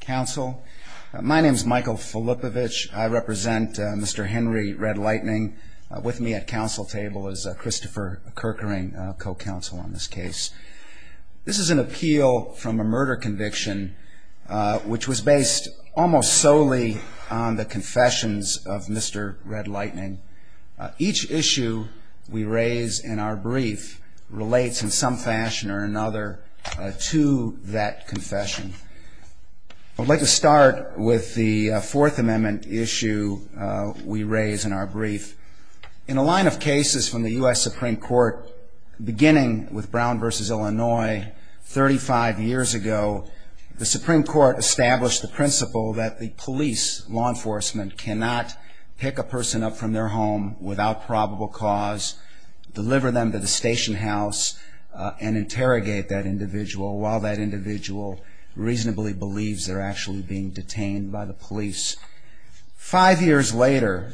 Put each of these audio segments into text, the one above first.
Council. My name is Michael Filipovich. I represent Mr. Henry Redlightning. With me at council table is Christopher Kerkering, co-counsel on this case. This is an appeal from a murder conviction which was based almost solely on the confessions of Mr. Redlightning. Each issue we raise in our brief relates in some fashion or another to that confession. The I'd like to start with the Fourth Amendment issue we raise in our brief. In a line of cases from the U.S. Supreme Court, beginning with Brown v. Illinois 35 years ago, the Supreme Court established the principle that the police, law enforcement, cannot pick a person up from their home without probable cause, deliver them to the station house, and interrogate that individual while that individual reasonably believes they're actually being detained by the police. Five years later,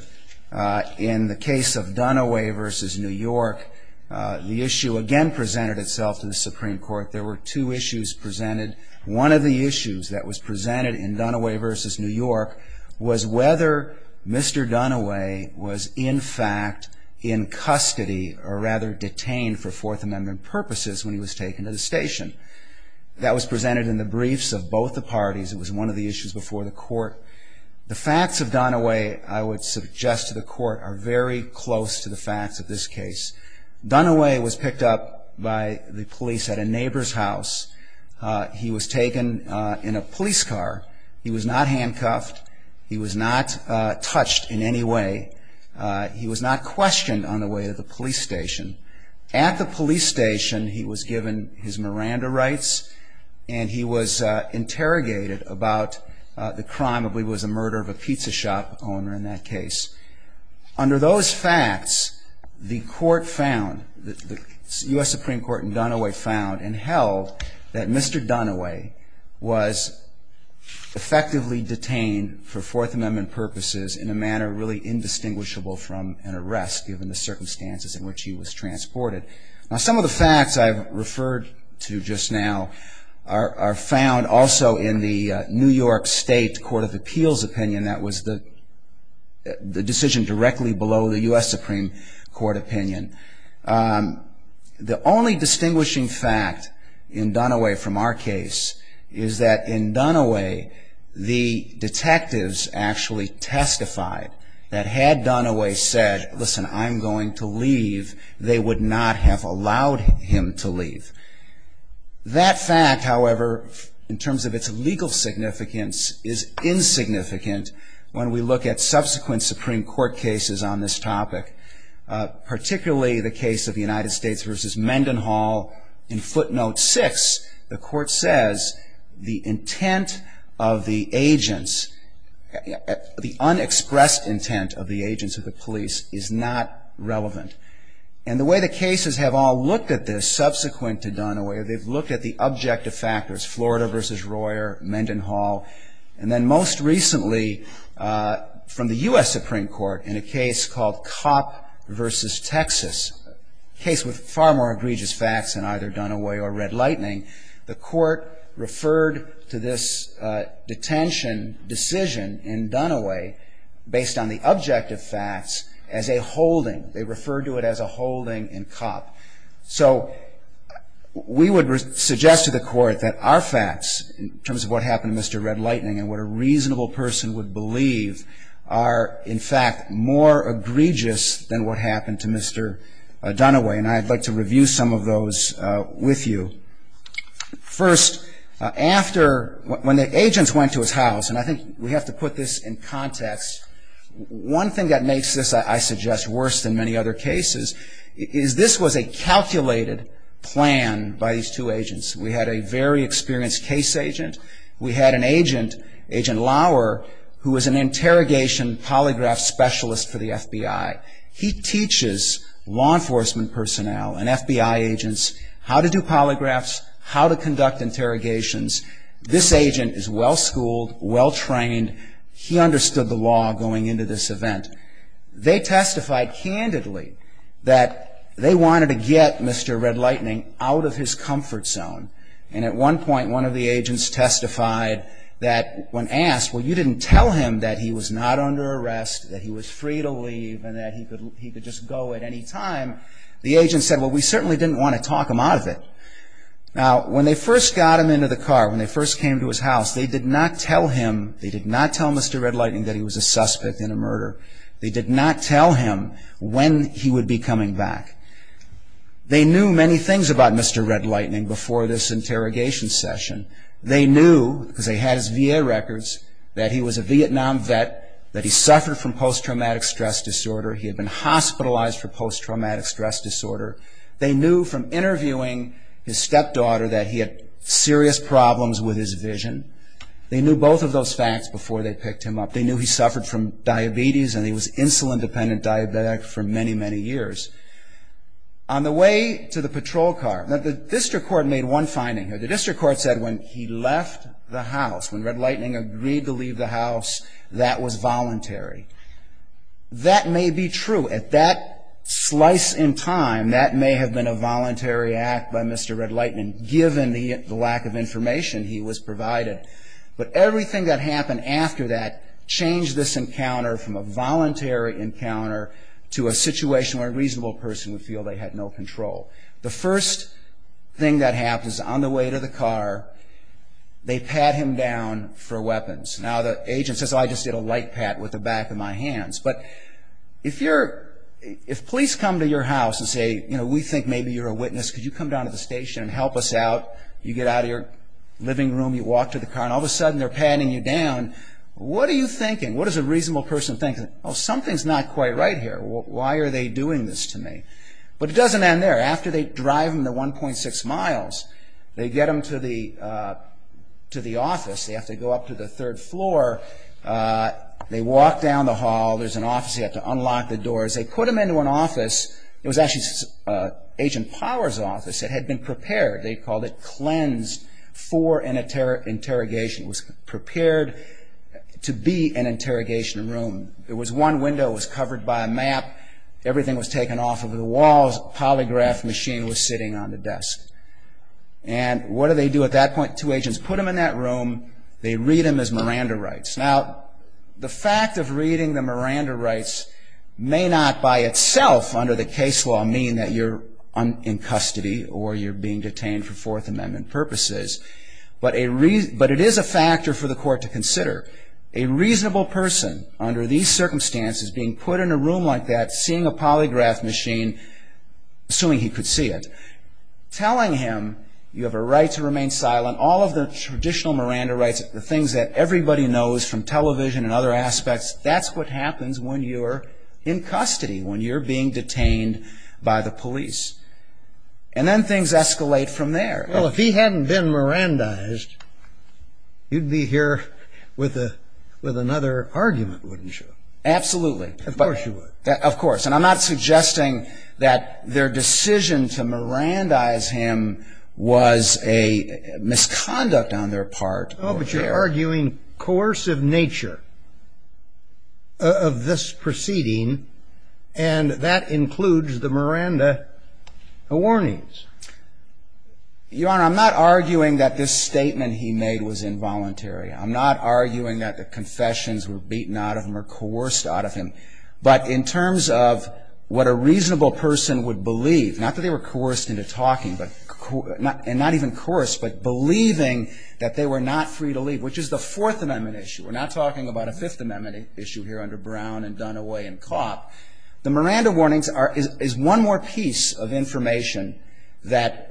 in the case of Dunaway v. New York, the issue again presented itself to the Supreme Court. There were two issues presented. One of the issues that was presented in Dunaway v. New York was whether Mr. Dunaway was in fact in custody, or rather detained for Fourth Amendment purposes when he was taken to the station. That was presented in the briefs of both the parties. It was one of the issues before the court. The facts of Dunaway, I would suggest to the court, are very close to the facts of this case. Dunaway was picked up by the police at a neighbor's house. He was taken in a police car. He was not handcuffed. He was not touched in any way. He was not questioned on the way to the police station. At the police station, he was given his Miranda rights, and he was interrogated about the crime of what was a murder of a pizza shop owner in that case. Under those facts, the court found, the U.S. Supreme Court in Dunaway found and held that Mr. Dunaway was effectively detained for Fourth Amendment purposes in a manner really indistinguishable from an arrest given the circumstances in which he was transported. Some of the facts I've referred to just now are found also in the New York State Court of Appeals opinion. That was the decision directly below the U.S. Supreme Court opinion. The only distinguishing fact in Dunaway from our case is that in Dunaway, the detectives actually testified that had Dunaway said, listen, I'm going to leave, they would not have allowed him to leave. That fact, however, in terms of its legal significance, is insignificant when we look at subsequent Supreme Court cases on this topic, particularly the case of the United States v. Mendenhall in footnote six. The court says the intent of the agents at the unexpressed intent of the agents of the police is not relevant. And the way the cases have all looked at this subsequent to Dunaway, they've looked at the objective factors, Florida v. Royer, Mendenhall, and then most recently from the U.S. Supreme Court in a case called Kopp v. Texas, a case with far more egregious facts than either this detention decision in Dunaway based on the objective facts as a holding. They refer to it as a holding in Kopp. So we would suggest to the court that our facts in terms of what happened to Mr. Red Lightning and what a reasonable person would believe are in fact more egregious than what happened to Mr. Dunaway. And I'd like to review some of those with you. First, after, when the agents went to his house, and I think we have to put this in context, one thing that makes this, I suggest, worse than many other cases is this was a calculated plan by these two agents. We had a very experienced case agent. We had an agent, Agent Lauer, who was an interrogation polygraph specialist for the FBI. He teaches law enforcement personnel and FBI agents how to do polygraphs, how to conduct interrogations. This agent is well-schooled, well-trained. He understood the law going into this event. They testified candidly that they wanted to get Mr. Red Lightning out of his comfort zone. And at one point, one of the agents testified that when asked, well, you didn't tell him that he was not under arrest, that he was free to leave, and that he could just go at any time, the agent said, well, we certainly didn't want to talk him out of it. Now, when they first got him into the car, when they first came to his house, they did not tell him, they did not tell Mr. Red Lightning that he was a suspect in a murder. They did not tell him when he would be coming back. They knew many things about Mr. Red Lightning before this interrogation session. They knew, because they had his VA records, that he was a Vietnam vet, that he suffered from post-traumatic stress disorder. He had been hospitalized for post-traumatic stress disorder. They knew from interviewing his stepdaughter that he had serious problems with his vision. They knew both of those facts before they picked him up. They knew he suffered from diabetes, and he was insulin-dependent diabetic for many, many years. On the way to the patrol car, the district court made one finding. The district court said when he left the house, when Red Lightning agreed to leave the house, that was voluntary. That may be true. At that slice in time, that may have been a voluntary act by Mr. Red Lightning, given the lack of information he was provided. But everything that happened after that changed this encounter from a voluntary encounter to a situation where a reasonable person would feel they had no control. The first thing that happens on the way to the car, they pat him down for weapons. Now the agent says, I just did a light pat with the back of my hands. If police come to your house and say, we think maybe you're a witness, could you come down to the station and help us out? You get out of your living room, you walk to the car, and all of a sudden they're patting you down. What are you thinking? What does a reasonable person think? Something's not quite right here. Why are they doing this to me? But it doesn't end there. After they drive him the 1.6 miles, they get him to the office. They have to go up to the third floor. They walk down the hall. There's an office. They have to unlock the doors. They put him into an office. It was actually Agent Power's office. It had been prepared. They called it cleansed for an interrogation. It was prepared to be an interrogation room. There was one window. It was covered by a map. Everything was taken off of the walls. A polygraph machine was sitting on the desk. And what do they do at that point? Two agents put him in that room. They read him as Miranda Writes. Now the fact of reading the Miranda Writes may not by itself under the case law mean that you're in custody or you're being detained for Fourth Amendment purposes, but it is a factor for the court to consider. A reasonable person under these circumstances being put in a room like that, seeing a polygraph machine, assuming he could see it, telling him you have a right to remain silent, all of the traditional Miranda Writes, the things that everybody knows from television and other aspects, that's what happens when you're in custody, when you're being detained by the police. And then things escalate from there. Well, if he hadn't been Mirandized, you'd be here with another argument, wouldn't you? Absolutely. Of course you would. Of course. And I'm not suggesting that their decision to Mirandize him was a misconduct on their part. No, but you're arguing coercive nature of this proceeding, and that includes the Miranda Warnings. Your Honor, I'm not arguing that this statement he made was involuntary. I'm not arguing that the confessions were beaten out of him or coerced out of him. But in terms of what a reasonable person would believe, not that they were coerced into talking, and not even coerced, but believing that they were not free to leave, which is the Fourth Amendment issue. We're not talking about a Fifth Amendment issue here under Brown and Dunaway and Kopp. The Miranda Warnings is one more piece of information that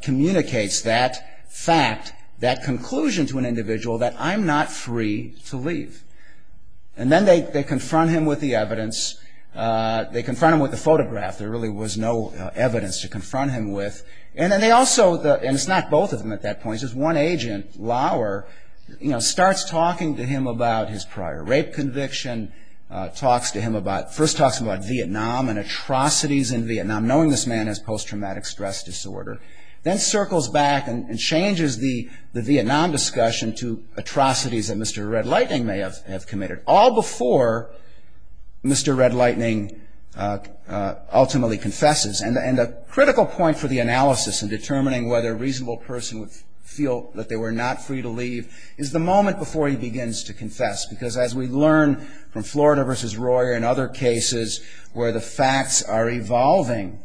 communicates that fact, that conclusion to an individual that I'm not free to leave. And then they confront him with the evidence. They confront him with the photograph. There really was no evidence to confront him with. And then they also, and it's not both of them at that point, it's just one agent, Lauer, you know, starts talking to him about his prior rape conviction, talks to him about – first talks to him about Vietnam and atrocities in Vietnam, knowing this man has post-traumatic stress disorder, then circles back and changes the Vietnam discussion to atrocities that Mr. Red Lightning may have committed, all before Mr. Red Lightning ultimately confesses. And a critical point for the analysis in determining whether a reasonable person would feel that they were not free to leave is the moment before he begins to confess. Because as we learn from Florida v. Royer and other cases where the facts are evolving,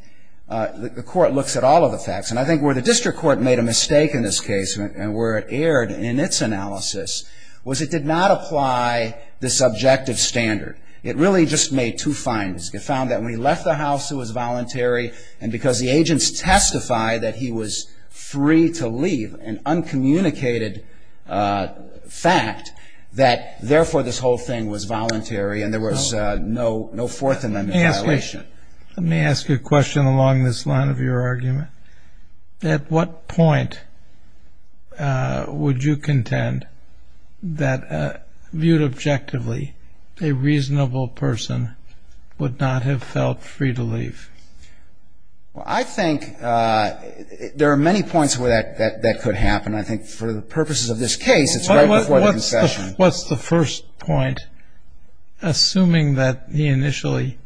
the court looks at all of the facts. And I think where the district court made a mistake in this case and where it erred in its analysis was it did not apply the subjective standard. It really just made two findings. It found that when he left the house, it was voluntary, and because the agents testify that he was free to leave, an uncommunicated fact, that therefore this whole thing was voluntary and there was no Fourth Amendment violation. Let me ask you a question along this line of your argument. At what point would you contend that, viewed objectively, a reasonable person would not have felt free to leave? Well, I think there are many points where that could happen. I think for the purposes of this case, it's right before the concession. What's the first point, assuming that he initially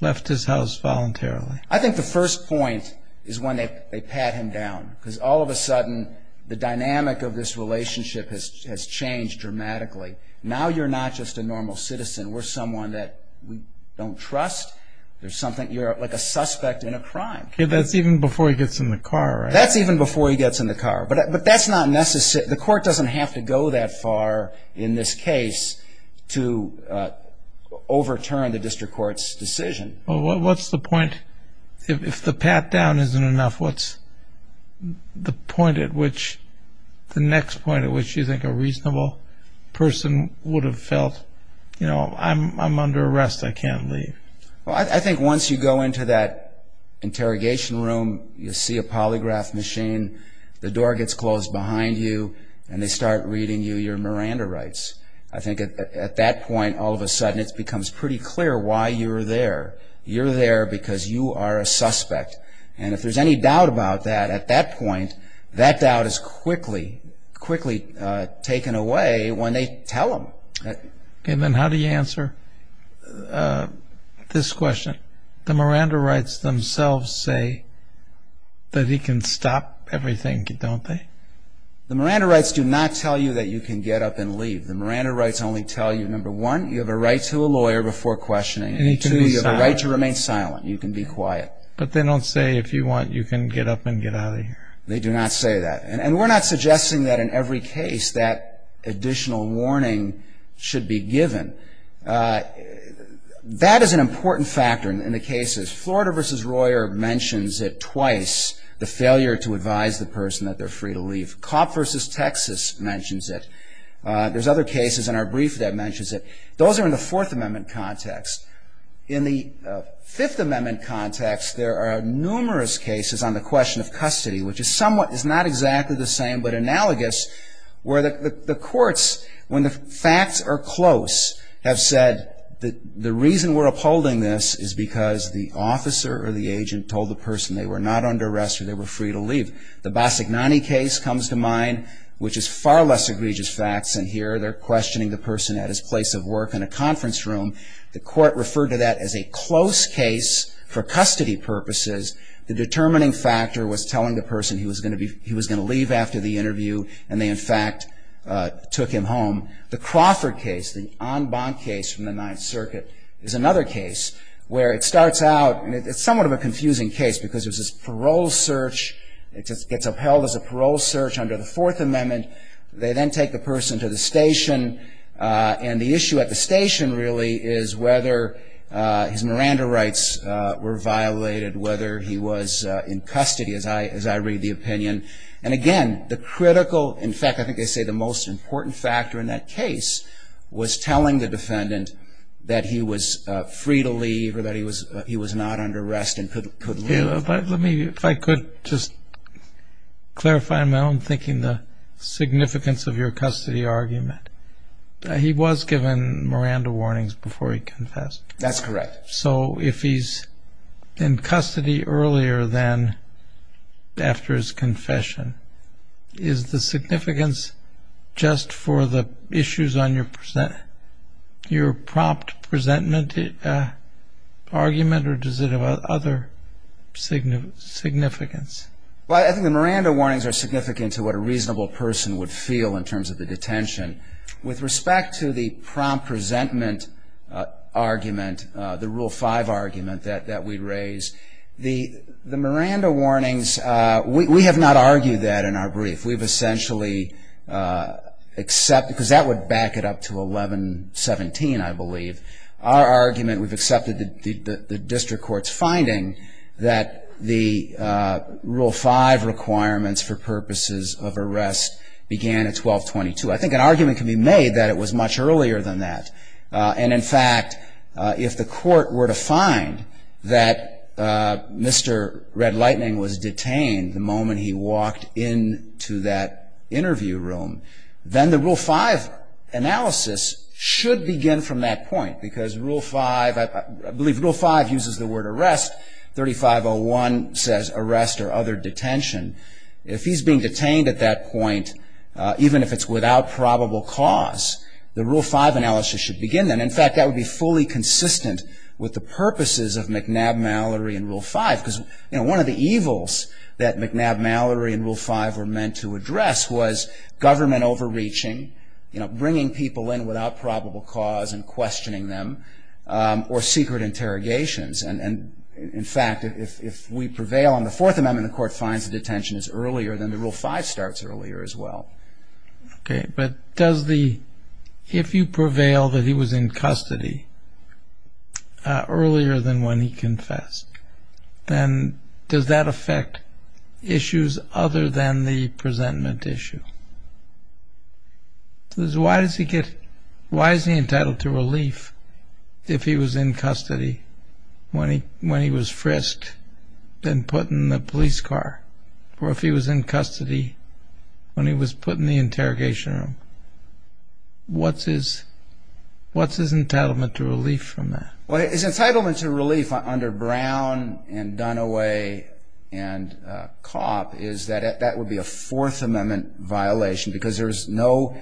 left his house voluntarily? I think the first point is when they pat him down. Because all of a sudden, the dynamic of this relationship has changed dramatically. Now you're not just a normal citizen. We're someone that we don't trust. You're like a suspect in a crime. That's even before he gets in the car, right? That's even before he gets in the car. But that's not necessary. The court doesn't have to go that far in this case to overturn the district court's decision. What's the point? If the pat down isn't enough, what's the next point at which you think a person is under arrest and can't leave? I think once you go into that interrogation room, you see a polygraph machine, the door gets closed behind you, and they start reading you your Miranda rights. I think at that point, all of a sudden, it becomes pretty clear why you're there. You're there because you are a suspect. If there's any doubt about that at that point, that doubt is quickly taken away when they tell him. Then how do you answer this question? The Miranda rights themselves say that he can stop everything, don't they? The Miranda rights do not tell you that you can get up and leave. The Miranda rights only tell you, number one, you have a right to a lawyer before questioning, and two, you have a right to remain silent. You can be quiet. But they don't say if you want, you can get up and get out of here. They do not say that. And we're not suggesting that in every case that additional warning should be given. That is an important factor in the cases. Florida v. Royer mentions it twice, the failure to advise the person that they're free to leave. Cobb v. Texas mentions it. There's other cases in our brief that mentions it. Those are in the Fourth Amendment context. In the Fifth Amendment context, there are numerous cases on the question of custody, which is somewhat, is not exactly the same, but analogous, where the courts, when the facts are close, have said that the reason we're upholding this is because the officer or the agent told the person they were not under arrest or they were free to leave. The Bassignani case comes to mind, which is far less egregious facts, and here they're questioning the person at his place of work in a conference room. The court referred to that as a close case for custody purposes. The determining factor was telling the person he was going to leave after the interview, and they, in fact, took him home. The Crawford case, the en banc case from the Ninth Circuit, is another case where it starts out, and it's somewhat of a confusing case because there's this parole search. It gets upheld as a parole search under the Fourth Amendment. They then take the person to the His Miranda rights were violated whether he was in custody, as I read the opinion, and again, the critical, in fact, I think they say the most important factor in that case was telling the defendant that he was free to leave or that he was not under arrest and could leave. Let me, if I could just clarify in my own thinking the significance of your custody argument. He was given Miranda warnings before he confessed. That's correct. So if he's in custody earlier than after his confession, is the significance just for the issues on your prompt presentment argument, or does it have other significance? Well, I think the Miranda warnings are significant to what a reasonable person would feel in With respect to the prompt presentment argument, the Rule 5 argument that we raised, the Miranda warnings, we have not argued that in our brief. We've essentially accepted, because that would back it up to 1117, I believe, our argument, we've accepted the district court's finding that the Rule 5 requirements for purposes of arrest began at 1222. I think an argument can be made that it was much earlier than that. And in fact, if the court were to find that Mr. Red Lightning was detained the moment he walked into that interview room, then the Rule 5 analysis should begin from that point, because Rule 5, I believe Rule 5 uses the word arrest, 3501 says arrest or other detention. If he's being detained at that point, even if it's without probable cause, the Rule 5 analysis should begin then. In fact, that would be fully consistent with the purposes of McNabb-Mallory and Rule 5, because one of the evils that McNabb-Mallory and Rule 5 were meant to address was government overreaching, bringing people in without probable cause and questioning them, or secret interrogations. And in fact, if we prevail on the Fourth Amendment, the court finds the detention is earlier than Rule 5. I mean, Rule 5 starts earlier as well. Okay, but does the, if you prevail that he was in custody earlier than when he confessed, then does that affect issues other than the presentment issue? Why is he entitled to relief if he was in custody when he was frisked and put in the police car? Or if he was in custody when he was put in the interrogation room, what's his entitlement to relief from that? Well, his entitlement to relief under Brown and Dunaway and Kopp is that that would be a Fourth Amendment violation, because there was no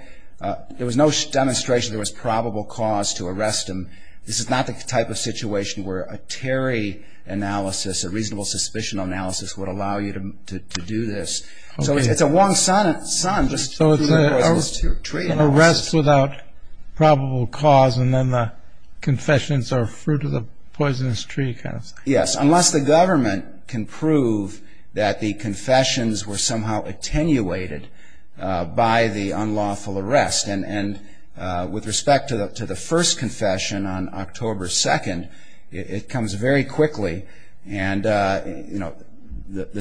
demonstration there was probable cause to arrest him. This is not the type of situation where a Terry analysis, a reasonable suspicion analysis, would allow you to do this. So it's a Wong-San just tree-poisonous-tree analysis. So it's an arrest without probable cause, and then the confessions are fruit of the poisonous tree kind of thing. Yes, unless the government can prove that the confessions were somehow attenuated by the unlawful arrest. And with respect to the first confession on October 2nd, it comes very quickly. And the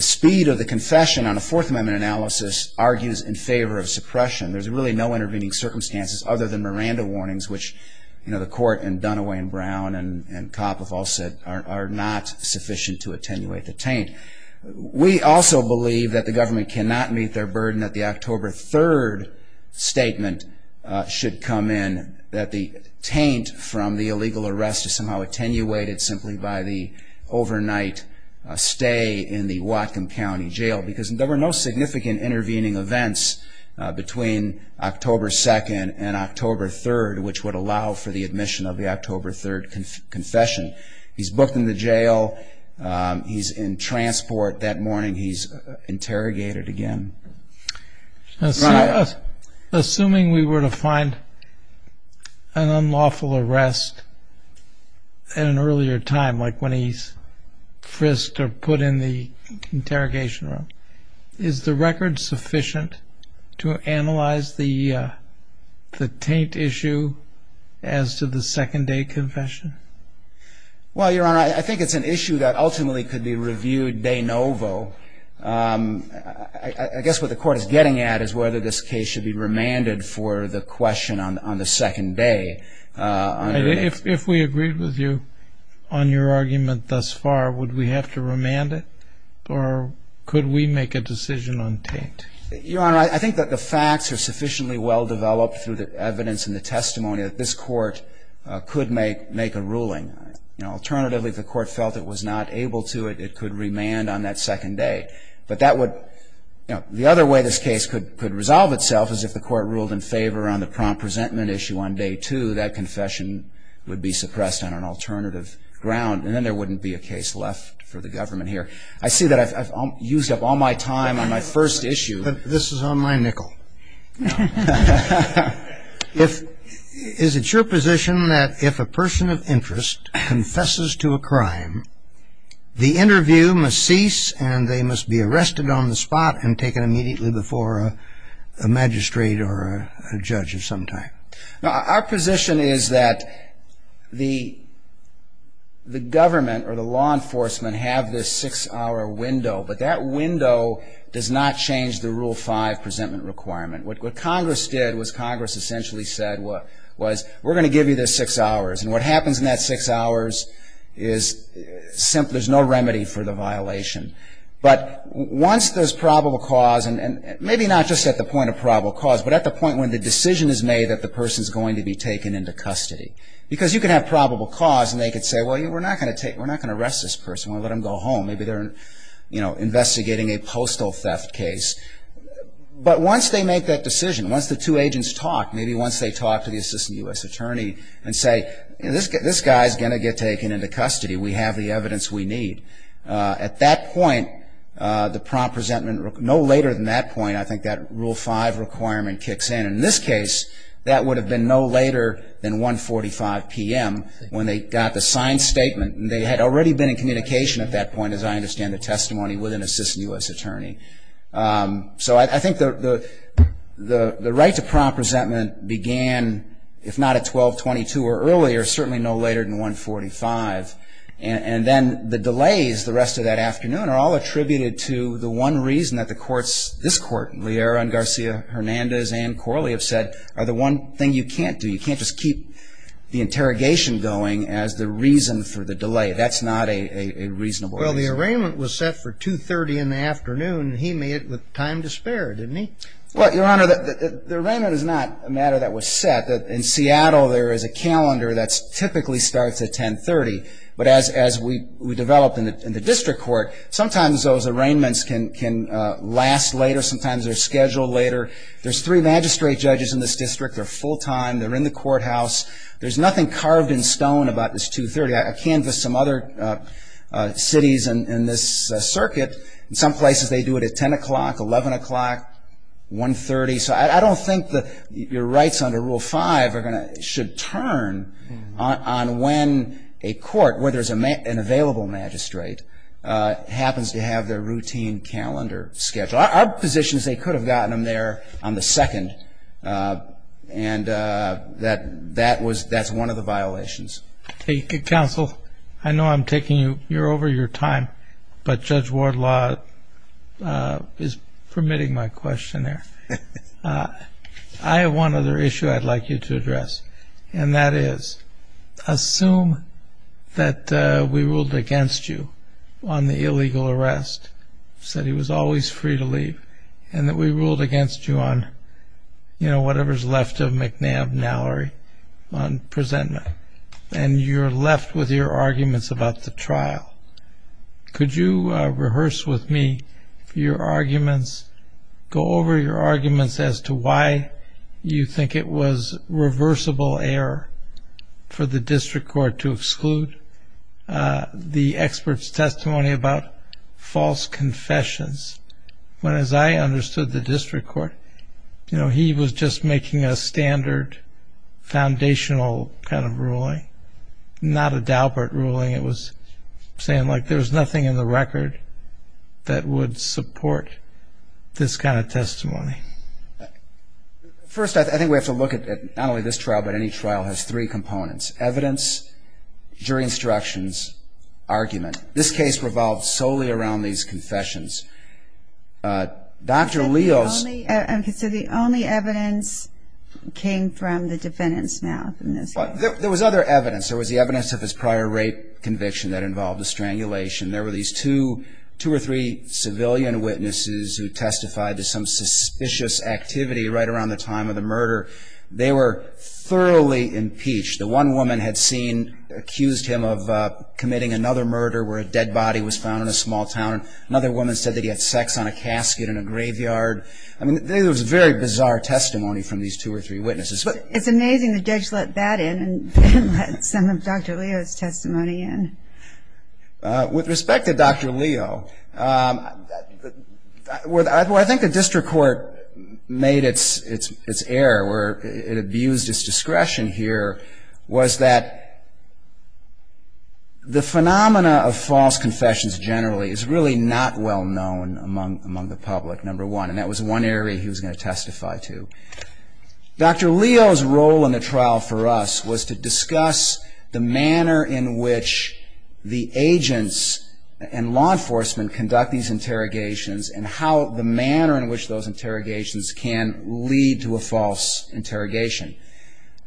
speed of the confession on a Fourth Amendment analysis argues in favor of suppression. There's really no intervening circumstances other than Miranda warnings, which the court and Dunaway and Brown and Kopp have all said are not sufficient to attenuate the taint. We also believe that the government cannot meet their burden that the October 3rd statement should come in, that the taint from the illegal arrest is somehow attenuated simply by the overnight stay in the Whatcom County Jail, because there were no significant intervening events between October 2nd and October 3rd, which would allow for the admission of the he's interrogated again. Assuming we were to find an unlawful arrest at an earlier time, like when he's frisked or put in the interrogation room, is the record sufficient to analyze the taint issue as to the second-day confession? Well, Your Honor, I think it's an issue that ultimately could be reviewed de novo. I guess what the court is getting at is whether this case should be remanded for the question on the second day. If we agreed with you on your argument thus far, would we have to remand it, or could we make a decision on taint? Your Honor, I think that the facts are sufficiently well-developed through the evidence and the ruling. Alternatively, if the court felt it was not able to, it could remand on that second day. But the other way this case could resolve itself is if the court ruled in favor on the prompt-presentment issue on day two, that confession would be suppressed on an alternative ground, and then there wouldn't be a case left for the government here. I see that I've used up all my time on my first issue. This is on my nickel. Is it your position that if a person of interest confesses to a crime, the interview must cease and they must be arrested on the spot and taken immediately before a magistrate or a judge of some type? Our position is that the government or the law enforcement have this six-hour window, but that window does not change the Rule 5 presentment requirement. What Congress did was Congress essentially said, we're going to give you this six hours. And what happens in that six hours is there's no remedy for the violation. But once there's probable cause, and maybe not just at the point of probable cause, but at the point when the decision is made that the person is going to be taken into custody. Because you can have probable cause, and they could say, well, we're not going to arrest this person. We'll let him go home. Maybe they're investigating a postal theft case. But once they make that decision, once the two agents talk, maybe once they talk to the Assistant U.S. Attorney and say, this guy's going to get taken into custody. We have the evidence we need. At that point, no later than that point, I think that Rule 5 requirement kicks in. In this case, that would have been no later than 1.45 p.m. when they got the signed statement. They had already been in communication at that point, as I understand the testimony with an Assistant U.S. Attorney. So I think the right to prompt resentment began, if not at 12.22 or earlier, certainly no later than 1.45. And then the delays the rest of that afternoon are all attributed to the one reason that the courts, this court, Liera and Garcia-Hernandez and Corley, have said, are the one thing you can't do. You can't just keep the interrogation going as the reason for the delay. That's not a reasonable reason. Well, the arraignment was set for 2.30 in the afternoon, and he made it with time to spare, didn't he? Well, Your Honor, the arraignment is not a matter that was set. In Seattle, there is a calendar that typically starts at 10.30. But as we developed in the district court, sometimes those arraignments can last later. Sometimes they're scheduled later. There's three magistrate judges in this district. They're full time. They're in the courthouse. There's nothing carved in stone about this 2.30. I canvassed some other cities in this circuit. In some places they do it at 10 o'clock, 11 o'clock, 1.30. So I don't think your rights under Rule 5 should turn on when a court, where there's an available magistrate, happens to have their routine calendar scheduled. Our position is they could have gotten them there on the 2nd, and that's one of the violations. Counsel, I know I'm taking you over your time, but Judge Wardlaw is permitting my question there. I have one other issue I'd like you to address, and that is, assume that we ruled against you on the illegal arrest, said he was always free to leave, and that we ruled against you on whatever's left of McNabb, Nallery, on presentment, and you're left with your arguments about the trial. Could you rehearse with me your arguments? Go over your arguments as to why you think it was reversible error for the district court to exclude the expert's testimony about false confessions, when, as I understood the district court, he was just making a standard, foundational kind of ruling, not a Daubert ruling. It was saying, like, there's nothing in the record that would support this kind of testimony. First I think we have to look at, not only this trial, but any trial has three components. Evidence, jury instructions, argument. This case revolved solely around these confessions. Dr. Leo's... So the only evidence came from the defendant's mouth in this case? There was other evidence. There was the evidence of his prior rape conviction that involved a strangulation. There were these two or three civilian witnesses who testified to some suspicious activity right around the time of the murder. They were thoroughly impeached. The one woman had accused him of committing another murder where a dead body was found in a small town. Another woman said that he had sex on a casket in a graveyard. I mean, there was very bizarre testimony from these two or three witnesses. It's amazing the judge let that in and let some of Dr. Leo's testimony in. With respect to Dr. Leo, where I think the district court made its error, where it abused its discretion here, was that the phenomena of false confessions generally is really not well known among the public, number one. And that was one area he was going to testify to. Dr. Leo's role in the trial for us was to discuss the manner in which the agents and law enforcement conduct these interrogations and how the manner in which those interrogations can lead to a false interrogation.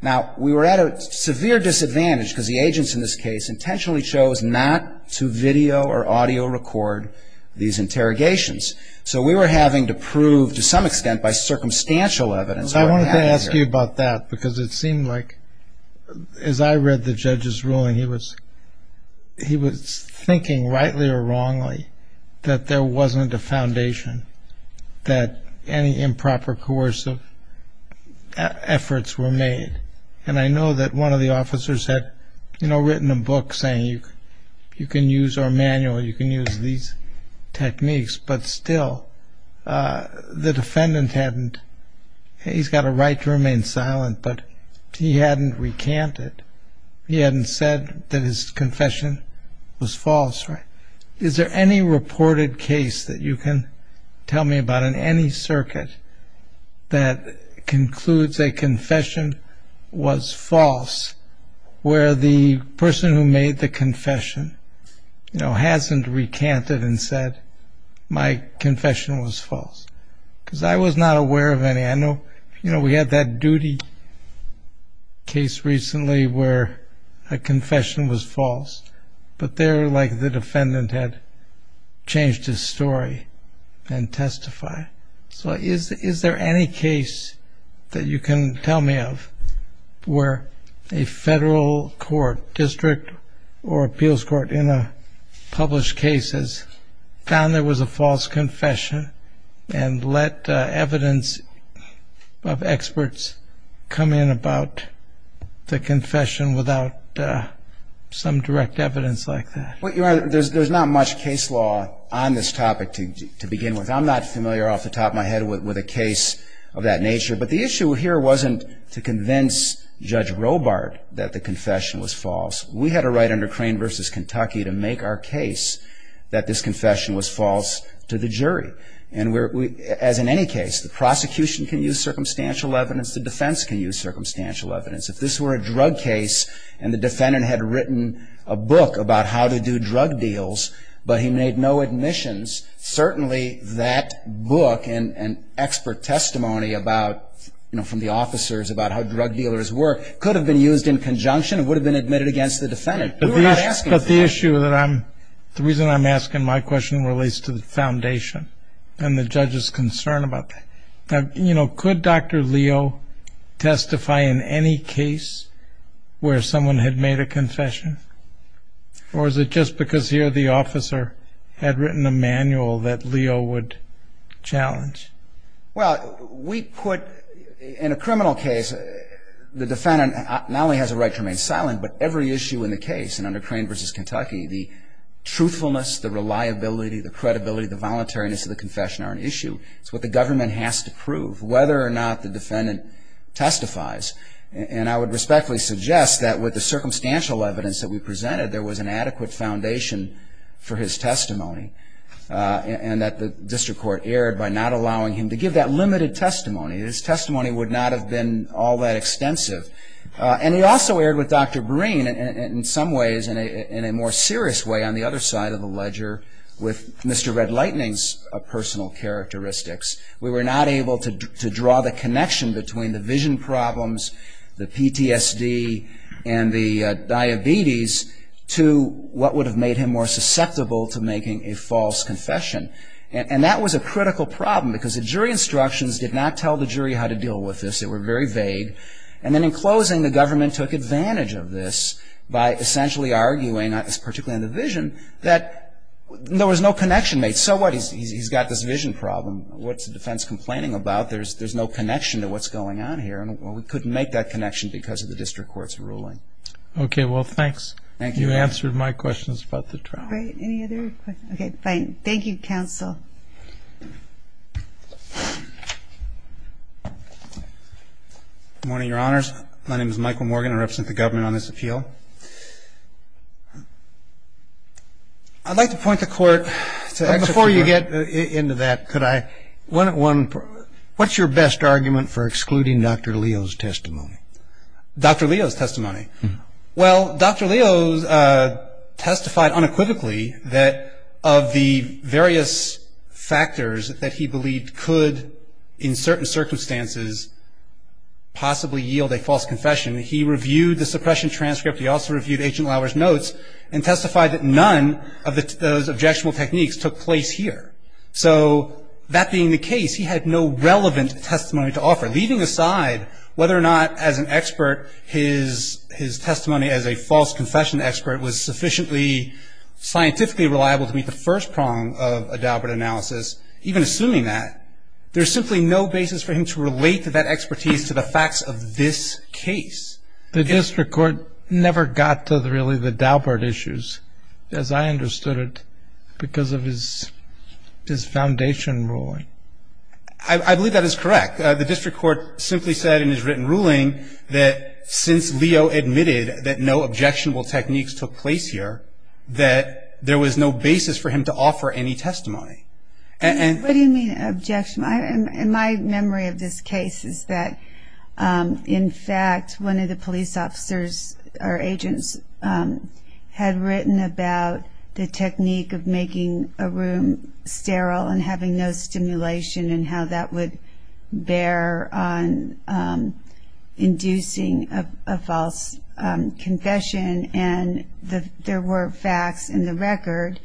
Now, we were at a severe disadvantage because the agents in this case intentionally chose not to video or audio record these interrogations. So we were having to prove, to some extent, by circumstantial evidence what happened here. I wanted to ask you about that because it seemed like, as I read the judge's ruling, he was thinking, rightly or wrongly, that there wasn't a foundation, that any improper coercive efforts were made. And I know that one of the officers had written a book saying you can use our manual, you can use these techniques. But still, the defendant hadn't – he's got a right to remain silent, but he hadn't recanted. He hadn't said that his confession was false, right? Is there any reported case that you can tell me about in any circuit that concludes a confession was false where the person who made the confession hasn't recanted and said, my confession was false? Because I was not aware of any. I know we had that duty case recently where a confession was false, but there, like, the defendant had changed his story and testified. So is there any case that you can tell me of where a federal court, district or appeals court, in a published case has found there was a false confession and let evidence of experts come in about the confession without some direct evidence like that? Well, Your Honor, there's not much case law on this topic to begin with. I'm not here to convince Judge Robart that the confession was false. We had a right under Crane v. Kentucky to make our case that this confession was false to the jury. As in any case, the prosecution can use circumstantial evidence, the defense can use circumstantial evidence. If this were a drug case and the defendant had written a book about how to do drug deals but he made no admissions, certainly that book and expert testimony about, you know, from the officers about how drug dealers work could have been used in conjunction and would have been admitted against the defendant. But the issue that I'm, the reason I'm asking my question relates to the foundation and the judge's concern about that. You know, could Dr. Leo testify in any case where someone had made a confession? Or is it just because here the officer had written a manual that Leo would challenge? Well, we put, in a criminal case, the defendant not only has a right to remain silent but every issue in the case in under Crane v. Kentucky, the truthfulness, the reliability, the credibility, the voluntariness of the confession are an issue. It's what the government has to prove, whether or not the defendant testifies. And I would respectfully suggest that with the circumstantial evidence that we presented, there was an adequate foundation for his testimony and that the district court erred by not allowing him to give that limited testimony. His testimony would not have been all that extensive. And he also erred with Dr. Breen in some ways, in a more serious way, on the other side of the ledger with Mr. Red Lightning's personal characteristics. We were not able to draw the connection between the vision problems, the PTSD, and the diabetes to what would have made him more susceptible to making a false confession. And that was a critical problem because the jury instructions did not tell the jury how to deal with this. They were very vague. And then in closing, the government took advantage of this by essentially arguing, particularly in the vision, that there was no connection made. So what? He's got this vision problem. What's the defense complaining about? There's no connection to what's going on here. And we couldn't make that connection because of the district court's ruling. Okay. Well, thanks. Thank you. You answered my questions about the trial. Great. Any other questions? Okay. Fine. Thank you, counsel. Good morning, Your Honors. My name is Michael Morgan. I represent the government on this appeal. I'd like to point the court to executive order. What's your best argument for excluding Dr. Leo's testimony? Dr. Leo's testimony? Well, Dr. Leo testified unequivocally that of the various factors that he believed could, in certain circumstances, possibly yield a false confession. He reviewed the suppression transcript. He also reviewed Agent Lauer's notes and testified that none of those objectionable techniques took place here. So that being the case, he had no relevant testimony to offer. Leaving aside whether or not, as an expert, his testimony as a false confession expert was sufficiently scientifically reliable to meet the first prong of a Daubert analysis, even assuming that, there's simply no basis for him to relate that expertise to the facts of this case. The district court never got to really the Daubert issues, as I understood it, because of his foundation ruling. I believe that is correct. The district court simply said in his written ruling that since Leo admitted that no objectionable techniques took place here, that there was no basis for him to offer any testimony. What do you mean objectionable? In my memory of this case is that, in fact, one of the police officers or agents had written about the technique of making a room sterile and having no stimulation and how that would bear on inducing a false confession. And there were facts in the record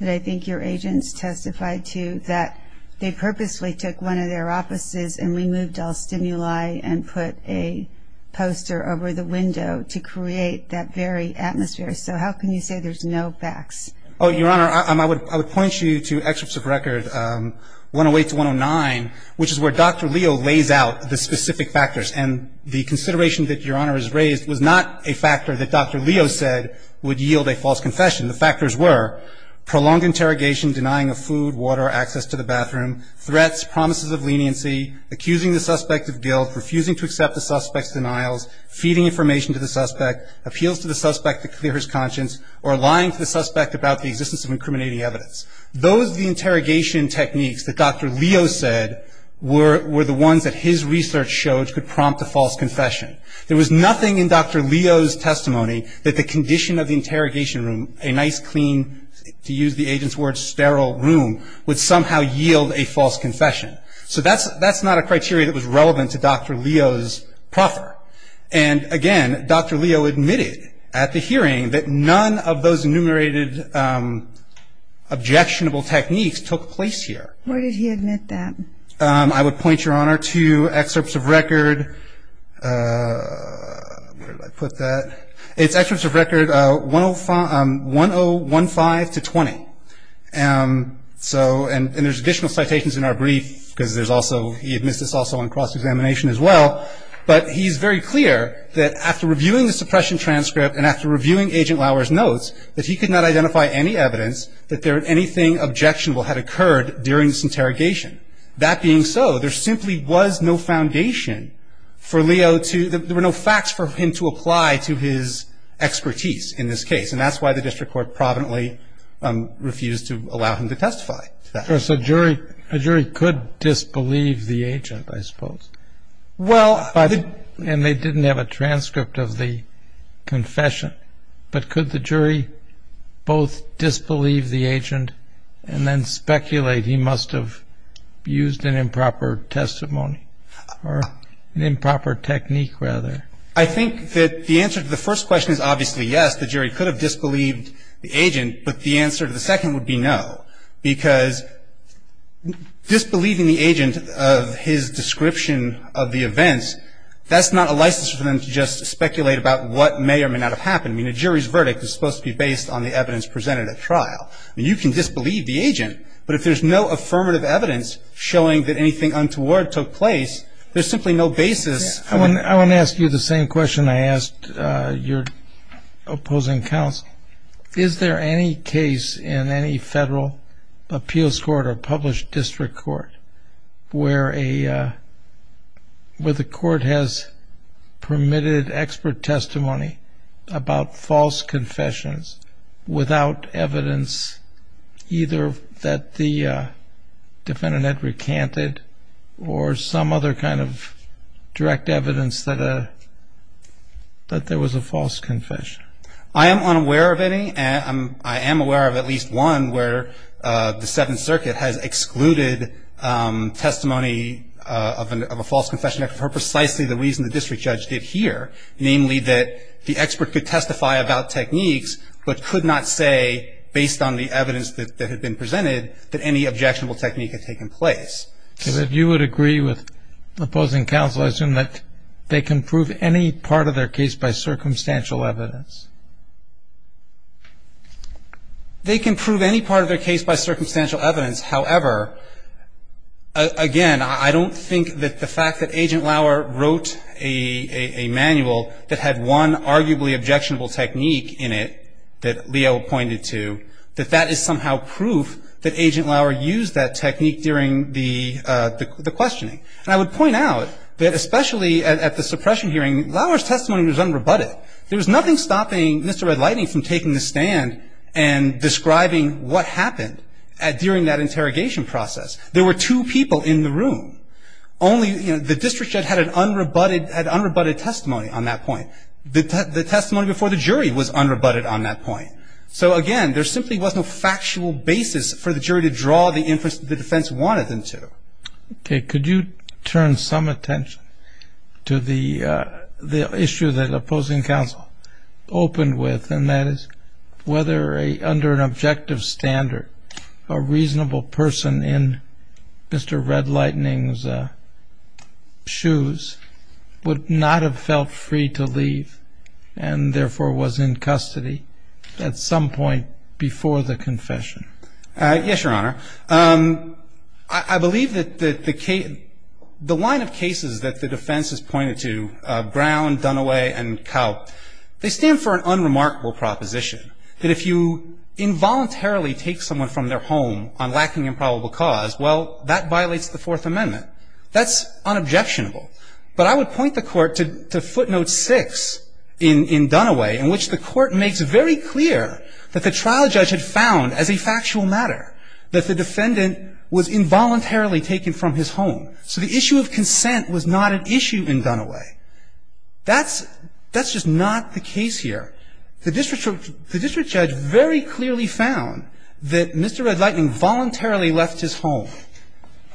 that I think your agents testified to that they purposely took one of their offices and removed all stimuli and put a poster over the window to create that very atmosphere. So how can you say there's no facts? Oh, your Honor, I would point you to excerpts of record 108 to 109, which is where Dr. Leo lays out the specific factors. And the consideration that your Honor has raised was not a factor that Dr. Leo said would yield a false confession. The factors were prolonged interrogation, denying of food, water, access to the bathroom, threats, promises of leniency, accusing the suspect of guilt, refusing to accept the suspect's denials, feeding information to the suspect, appeals to the suspect to clear his conscience, or lying to the suspect about the existence of incriminating evidence. Those interrogation techniques that Dr. Leo said were the ones that his research showed could prompt a false confession. There was nothing in Dr. Leo's testimony that the condition of the interrogation room, a nice, clean, to use the agent's word, sterile room, would somehow yield a false confession. So that's not a criteria that was relevant to Dr. Leo's proffer. And again, Dr. Leo admitted at the hearing that none of those enumerated objectionable techniques took place here. Where did he admit that? I would point, Your Honor, to excerpts of record, where did I put that? It's excerpts of record 1015 to 20. And there's additional citations in our brief, because there's also, he admits this also in cross-examination as well, but he's very clear that after reviewing the suppression transcript and after reviewing Agent Lauer's notes, that he could not identify any evidence that anything objectionable had occurred during this interrogation. That being so, there simply was no foundation for Leo to, there were no facts for him to have an expertise in this case. And that's why the district court providently refused to allow him to testify to that. Of course, a jury could disbelieve the agent, I suppose, and they didn't have a transcript of the confession. But could the jury both disbelieve the agent and then speculate he must have used an improper testimony, or an improper technique, rather? I think that the answer to the first question is obviously yes. The jury could have disbelieved the agent, but the answer to the second would be no. Because disbelieving the agent of his description of the events, that's not a license for them to just speculate about what may or may not have happened. I mean, a jury's verdict is supposed to be based on the evidence presented at trial. I mean, you can disbelieve the agent, but if there's no affirmative evidence showing that anything untoward took place, there's simply no basis for them. I want to ask you the same question I asked your opposing counsel. Is there any case in any federal appeals court or published district court where the court has permitted expert testimony about false confessions without evidence either that the defendant had recanted or some other kind of direct evidence that there was a false confession? I am unaware of any. I am aware of at least one where the Seventh Circuit has excluded testimony of a false confession for precisely the reason the district judge did here, namely that the expert could testify about techniques but could not say, based on the evidence that was presented at trial, that the defendant had recanted or some other kind of direct evidence. If you would agree with opposing counsel, I assume that they can prove any part of their case by circumstantial evidence. They can prove any part of their case by circumstantial evidence. However, again, I don't think that the fact that Agent Lauer wrote a manual that had one arguably objectionable technique in it that Leo pointed to, that that is somehow proof that Agent Lauer used that technique during the questioning. I would point out that especially at the suppression hearing, Lauer's testimony was unrebutted. There was nothing stopping Mr. Red Lightning from taking the stand and describing what There were two people in the room. Only the district judge had unrebutted testimony on that point. The testimony before the jury was unrebutted on that point. So, again, there simply was no factual basis for the jury to draw the inference that the defense wanted them to. Okay. Could you turn some attention to the issue that opposing counsel opened with, and that is whether under an objective standard, a reasonable person in Mr. Red Lightning's shoes would not have felt free to leave and therefore was in custody at some point before the confession? Yes, Your Honor. I believe that the line of cases that the defense has pointed to, Brown, Dunaway, and Kaup, they stand for an unremarkable proposition, that if you involuntarily take someone from their home on lacking in probable cause, well, that violates the Fourth Amendment. That's unobjectionable. But I would point the Court to footnote six in Dunaway in which the Court makes very clear that the trial judge had found as a factual matter that the defendant was involuntarily taken from his home. So the issue of consent was not an issue in Dunaway. That's just not the case here. The district judge very clearly found that Mr. Red Lightning voluntarily left his home.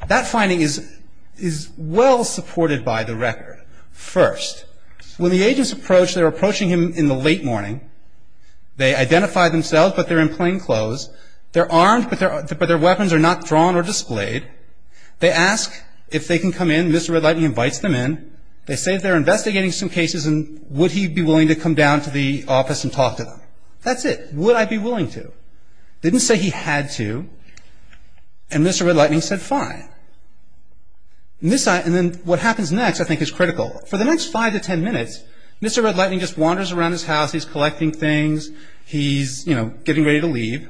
That finding is well supported by the record. First, when the agents approach, they're approaching him in the late morning. They identify themselves, but they're in plain clothes. They're armed, but their weapons are not drawn or displayed. They ask if they can come in. Mr. Red Lightning invites them in. They say they're investigating some cases and would he be willing to come down to the office and talk to them. That's it. Would I be willing to? Didn't say he had to. And Mr. Red Lightning said fine. And then what happens next, I think, is critical. For the next five to ten minutes, Mr. Red Lightning just wanders around his house. He's collecting things. He's, you know, getting ready to leave.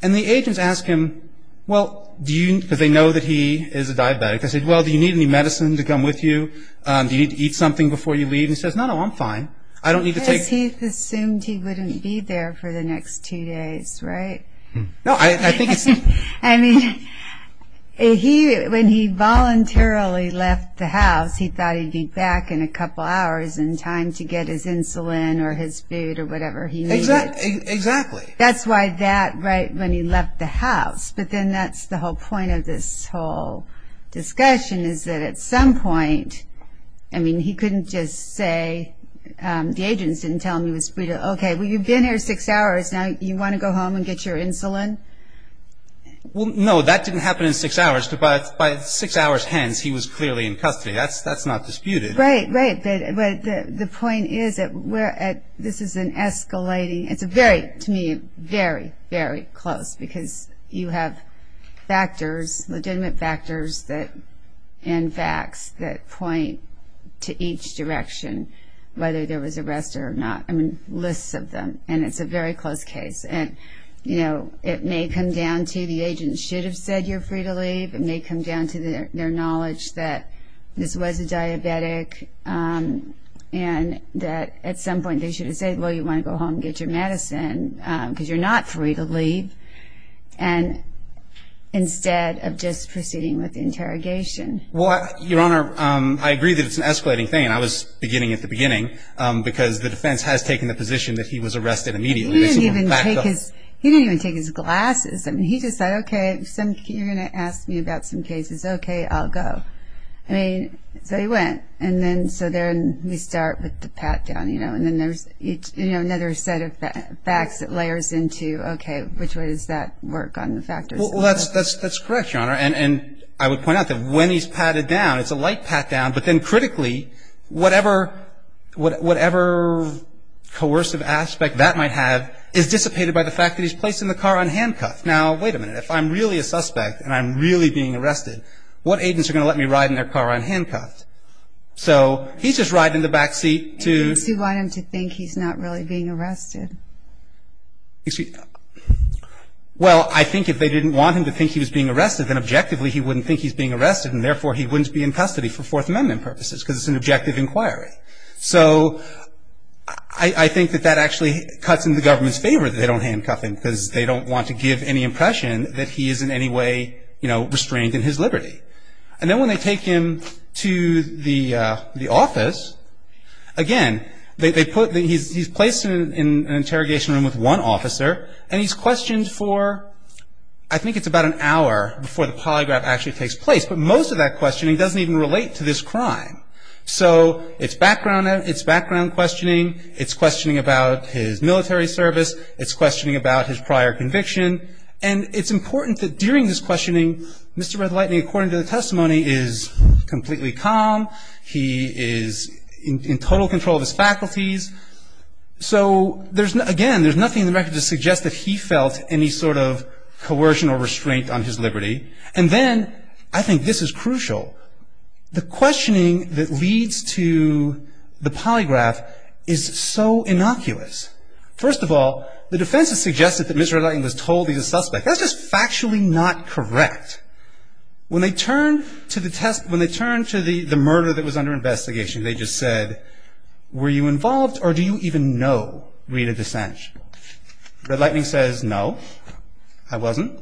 And the agents ask him, well, do you, because they know that he is a diabetic, they say, well, do you need any medicine to come with you? Do you need to eat something before you leave? He says, no, no, I'm fine. I don't need to take... Because he assumed he wouldn't be there for the next two days, right? No, I think it's... I mean, he, when he voluntarily left the house, he thought he'd be back in a couple hours in time to get his insulin or his food or whatever he needed. Exactly, exactly. That's why that, right, when he left the house, but then that's the whole point of this whole discussion is that at some point, I mean, he couldn't just say, the agents didn't tell him he was... Okay, well, you've been here six hours. Now you want to go home and get your insulin? Well, no, that didn't happen in six hours. But by six hours hence, he was clearly in custody. That's not disputed. Right, right. But the point is that we're at... This is an escalating... It's a very, to me, very, very close because you have factors, legitimate factors and facts that point to each direction, whether there was arrest or not. I mean, lists of them, and it's a very close case. And, you know, it may come down to the agent should have said you're free to leave. It may come down to their knowledge that this was a diabetic and that at some point they should have said, well, you want to go home and get your medicine because you're not free to leave. And instead of just proceeding with the interrogation. Your Honor, I agree that it's an escalating thing. And I was beginning at the beginning because the defense has taken the position that he was arrested immediately. He didn't even take his glasses. I mean, he just said, okay, you're going to ask me about some cases. Okay, I'll go. I mean, so he went. And then, so then we start with the pat down, you know, and then there's another set of facts that layers into, okay, which way does that work on the factors? Well, that's correct, Your Honor. And I would point out that when he's patted down, it's a light pat down, but then critically, whatever, whatever coercive aspect that might have, is dissipated by the fact that he's placed in the car unhandcuffed. Now, wait a minute. If I'm really a suspect and I'm really being arrested, what agents are going to let me ride in their car unhandcuffed? So he's just riding in the back seat to- You want him to think he's not really being arrested. Excuse me? Well, I think if they didn't want him to think he was being arrested, then objectively he wouldn't think he's being arrested and therefore he wouldn't be in custody for Fourth Amendment purposes because it's an objective inquiry. So I think that that actually cuts in the government's favor that they don't handcuff him because they don't want to give any impression that he is in any way restrained in his liberty. And then when they take him to the office, again, he's placed in an interrogation room with one officer and he's questioned for, I think it's about an hour before the polygraph actually takes place, but most of that questioning doesn't even relate to this crime. So it's background questioning. It's questioning about his military service. It's questioning about his prior conviction. And it's important that during this questioning, Mr. Red Lightning, according to the testimony, is completely calm. He is in total control of his faculties. So again, there's nothing in the record to suggest that he felt any sort of coercion or restraint on his liberty. And then I think this is crucial. The questioning that leads to the polygraph is so innocuous. First of all, the defense has suggested that Mr. Red Lightning was told he's a suspect. That's just factually not correct. When they turn to the murder that was under investigation, they just said, were you involved or do you even know Rita DeSanche? Red Lightning says, no, I wasn't.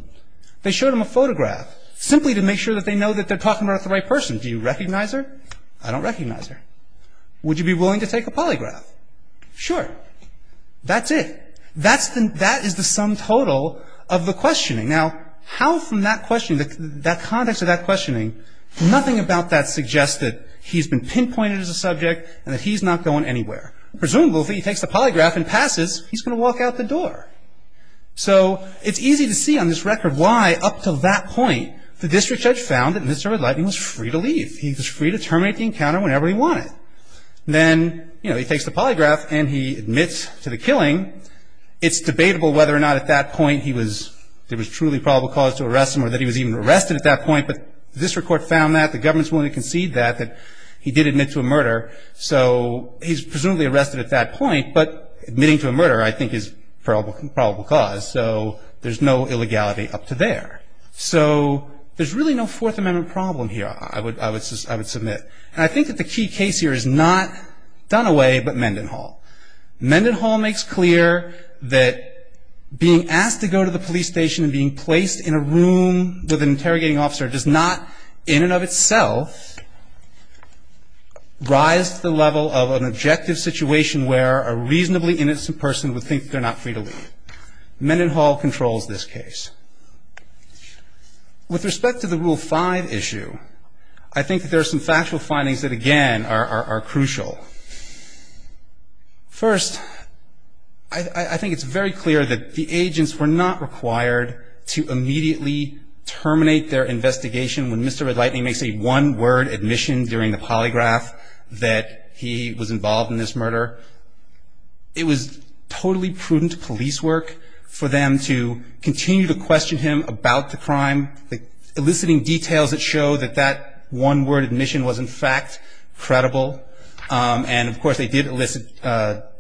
They showed him a photograph simply to make sure that they know that they're talking about the right person. Do you recognize her? I don't recognize her. Would you be willing to take a polygraph? Sure. That's it. That is the sum total of the questioning. Now, how from that questioning, that context of that questioning, nothing about that suggests that he's been pinpointed as a subject and that he's not going anywhere. Presumably, he takes the polygraph and passes, he's going to walk out the door. So it's easy to see on this record why up to that point, the district judge found that Mr. Red Lightning was free to leave. He was free to terminate the encounter whenever he wanted. Then, you know, he takes the polygraph and he admits to the killing. It's debatable whether or not at that point he was, there was truly probable cause to arrest him or that he was even arrested at that point. But the district court found that, the government's willing to concede that, he did admit to a murder. So he's presumably arrested at that point. But admitting to a murder, I think, is probable cause. So there's no illegality up to there. So there's really no Fourth Amendment problem here, I would submit. And I think that the key case here is not Dunaway, but Mendenhall. Mendenhall makes clear that being asked to go to the police station and being placed in a room with an interrogating officer does not in and of itself rise to the level of an objective situation where a reasonably innocent person would think they're not free to leave. Mendenhall controls this case. With respect to the Rule 5 issue, I think that there's some factual findings that, again, are crucial. First, I think it's very clear that the agents were not required to immediately terminate their investigation when Mr. Red Lightning makes a one-word admission during the polygraph that he was involved in this murder. It was totally prudent police work for them to continue to question him about the crime, eliciting details that show that that one-word admission was, in fact, credible. And, of course, they did elicit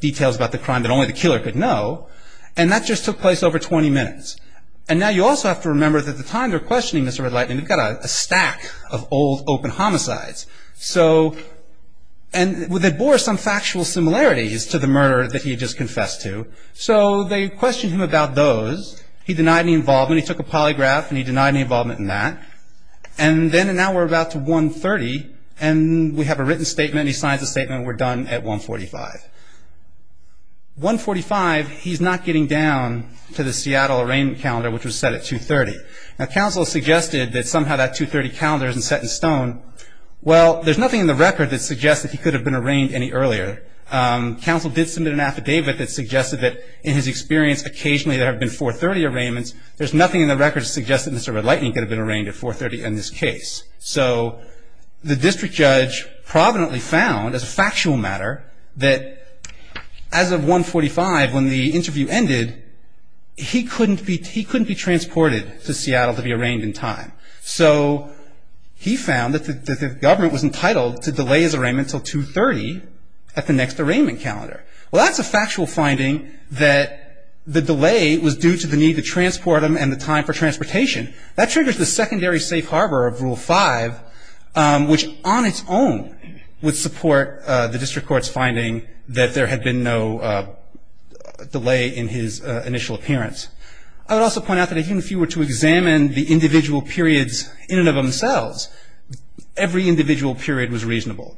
details about the crime that only the killer could know. And that just took place over 20 minutes. And now you also have to remember that at the time they're questioning Mr. Red Lightning, they've got a stack of old open homicides. And they bore some factual similarities to the murder that he just confessed to. So they questioned him about those. He denied any involvement. He took a polygraph, and he denied any involvement in that. And now we're about to 1.30, and we have a written statement. He signs the statement. We're done at 1.45. 1.45, he's not getting down to the Seattle arraignment calendar, which was set at 2.30. Now, counsel suggested that somehow that 2.30 calendar isn't set in stone. Well, there's nothing in the record that suggests that he could have been arraigned any earlier. Counsel did submit an affidavit that suggested that, in his experience, occasionally there have been 4.30 arraignments. There's nothing in the record that suggests that Mr. Red Lightning could have been arraigned at 4.30 in this case. So the district judge providently found, as a factual matter, that as of 1.45, when the interview ended, he couldn't be transported to Seattle to be arraigned in time. So he found that the government was entitled to delay his arraignment until 2.30 at the next arraignment calendar. Well, that's a factual finding that the delay was due to the need to transport him and the time for transportation. That triggers the secondary safe harbor of Rule 5, which on its own would support the district court's finding that there had been no delay in his initial appearance. I would also point out that even if you were to examine the individual periods in and of themselves, every individual period was reasonable.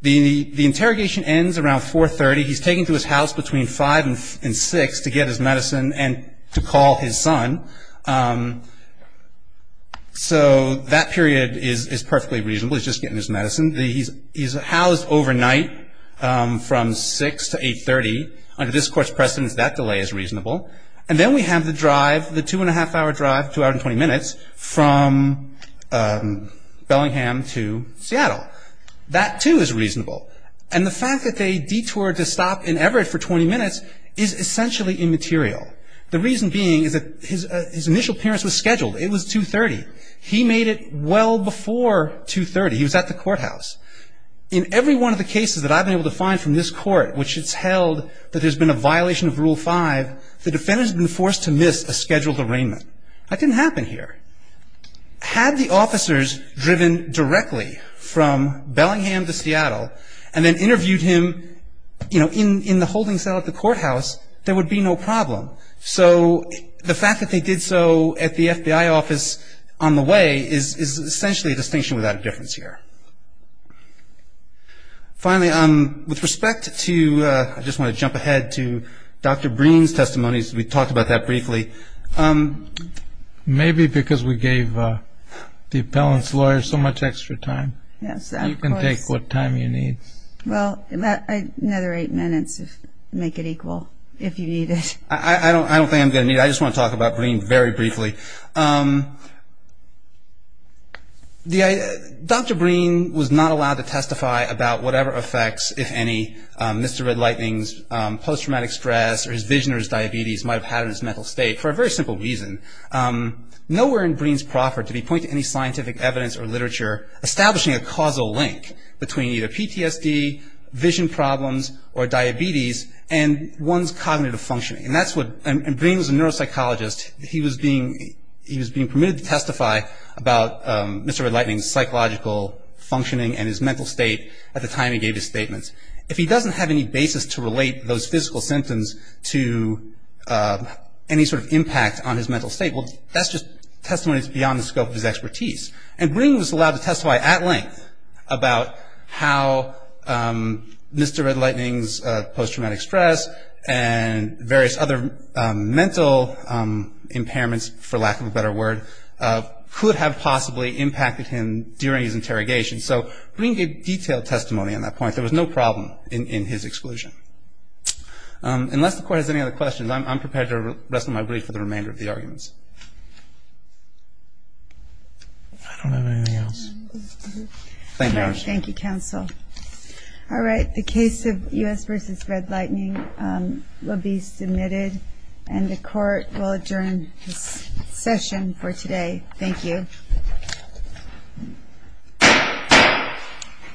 The interrogation ends around 4.30. He's taken to his house between 5 and 6 to get his medicine and to call his son. So that period is perfectly reasonable. He's just getting his medicine. He's housed overnight from 6 to 8.30. Under this court's precedence, that delay is reasonable. And then we have the drive, the two and a half hour drive, two hour and 20 minutes, from Bellingham to Seattle. That too is reasonable. And the fact that they detoured to stop in Everett for 20 minutes is essentially immaterial. The reason being is that his initial appearance was scheduled. It was 2.30. He made it well before 2.30. He was at the courthouse. In every one of the cases that I've been able to find from this court, which it's held that there's been a violation of Rule 5, the defendant has been forced to miss a scheduled arraignment. That didn't happen here. Had the officers driven directly from Bellingham to Seattle and then interviewed him, you know, in the holding cell at the courthouse, there would be no problem. So the fact that they did so at the FBI office on the way is essentially a distinction without a difference here. Finally, with respect to, I just want to jump ahead to Dr. Breen's testimonies. We talked about that briefly. Maybe because we gave the appellant's lawyer so much extra time. Yes, of course. You can take what time you need. Well, another eight minutes would make it equal, if you need it. I don't think I'm going to need it. I just want to talk about Breen very briefly. Dr. Breen was not allowed to testify about whatever effects, if any, Mr. Red Lightning's post-traumatic stress or his vision or his diabetes might have had on his mental state for a very simple reason. Nowhere in Breen's proffer did he point to any scientific evidence or literature establishing a causal link between either PTSD, vision problems, or diabetes and one's cognitive functioning. And Breen was a neuropsychologist. He was being permitted to testify about Mr. Red Lightning's psychological functioning and his mental state at the time he gave his symptoms to any sort of impact on his mental state. Well, that's just testimonies beyond the scope of his expertise. And Breen was allowed to testify at length about how Mr. Red Lightning's post-traumatic stress and various other mental impairments, for lack of a better word, could have possibly impacted him during his interrogation. So Breen gave the testimony. Unless the court has any other questions, I'm prepared to wrestle my brief with the remainder of the arguments. I don't have anything else. Thank you, counsel. All right. The case of U.S. v. Red Lightning will be submitted and the court will adjourn this session for today. Thank you.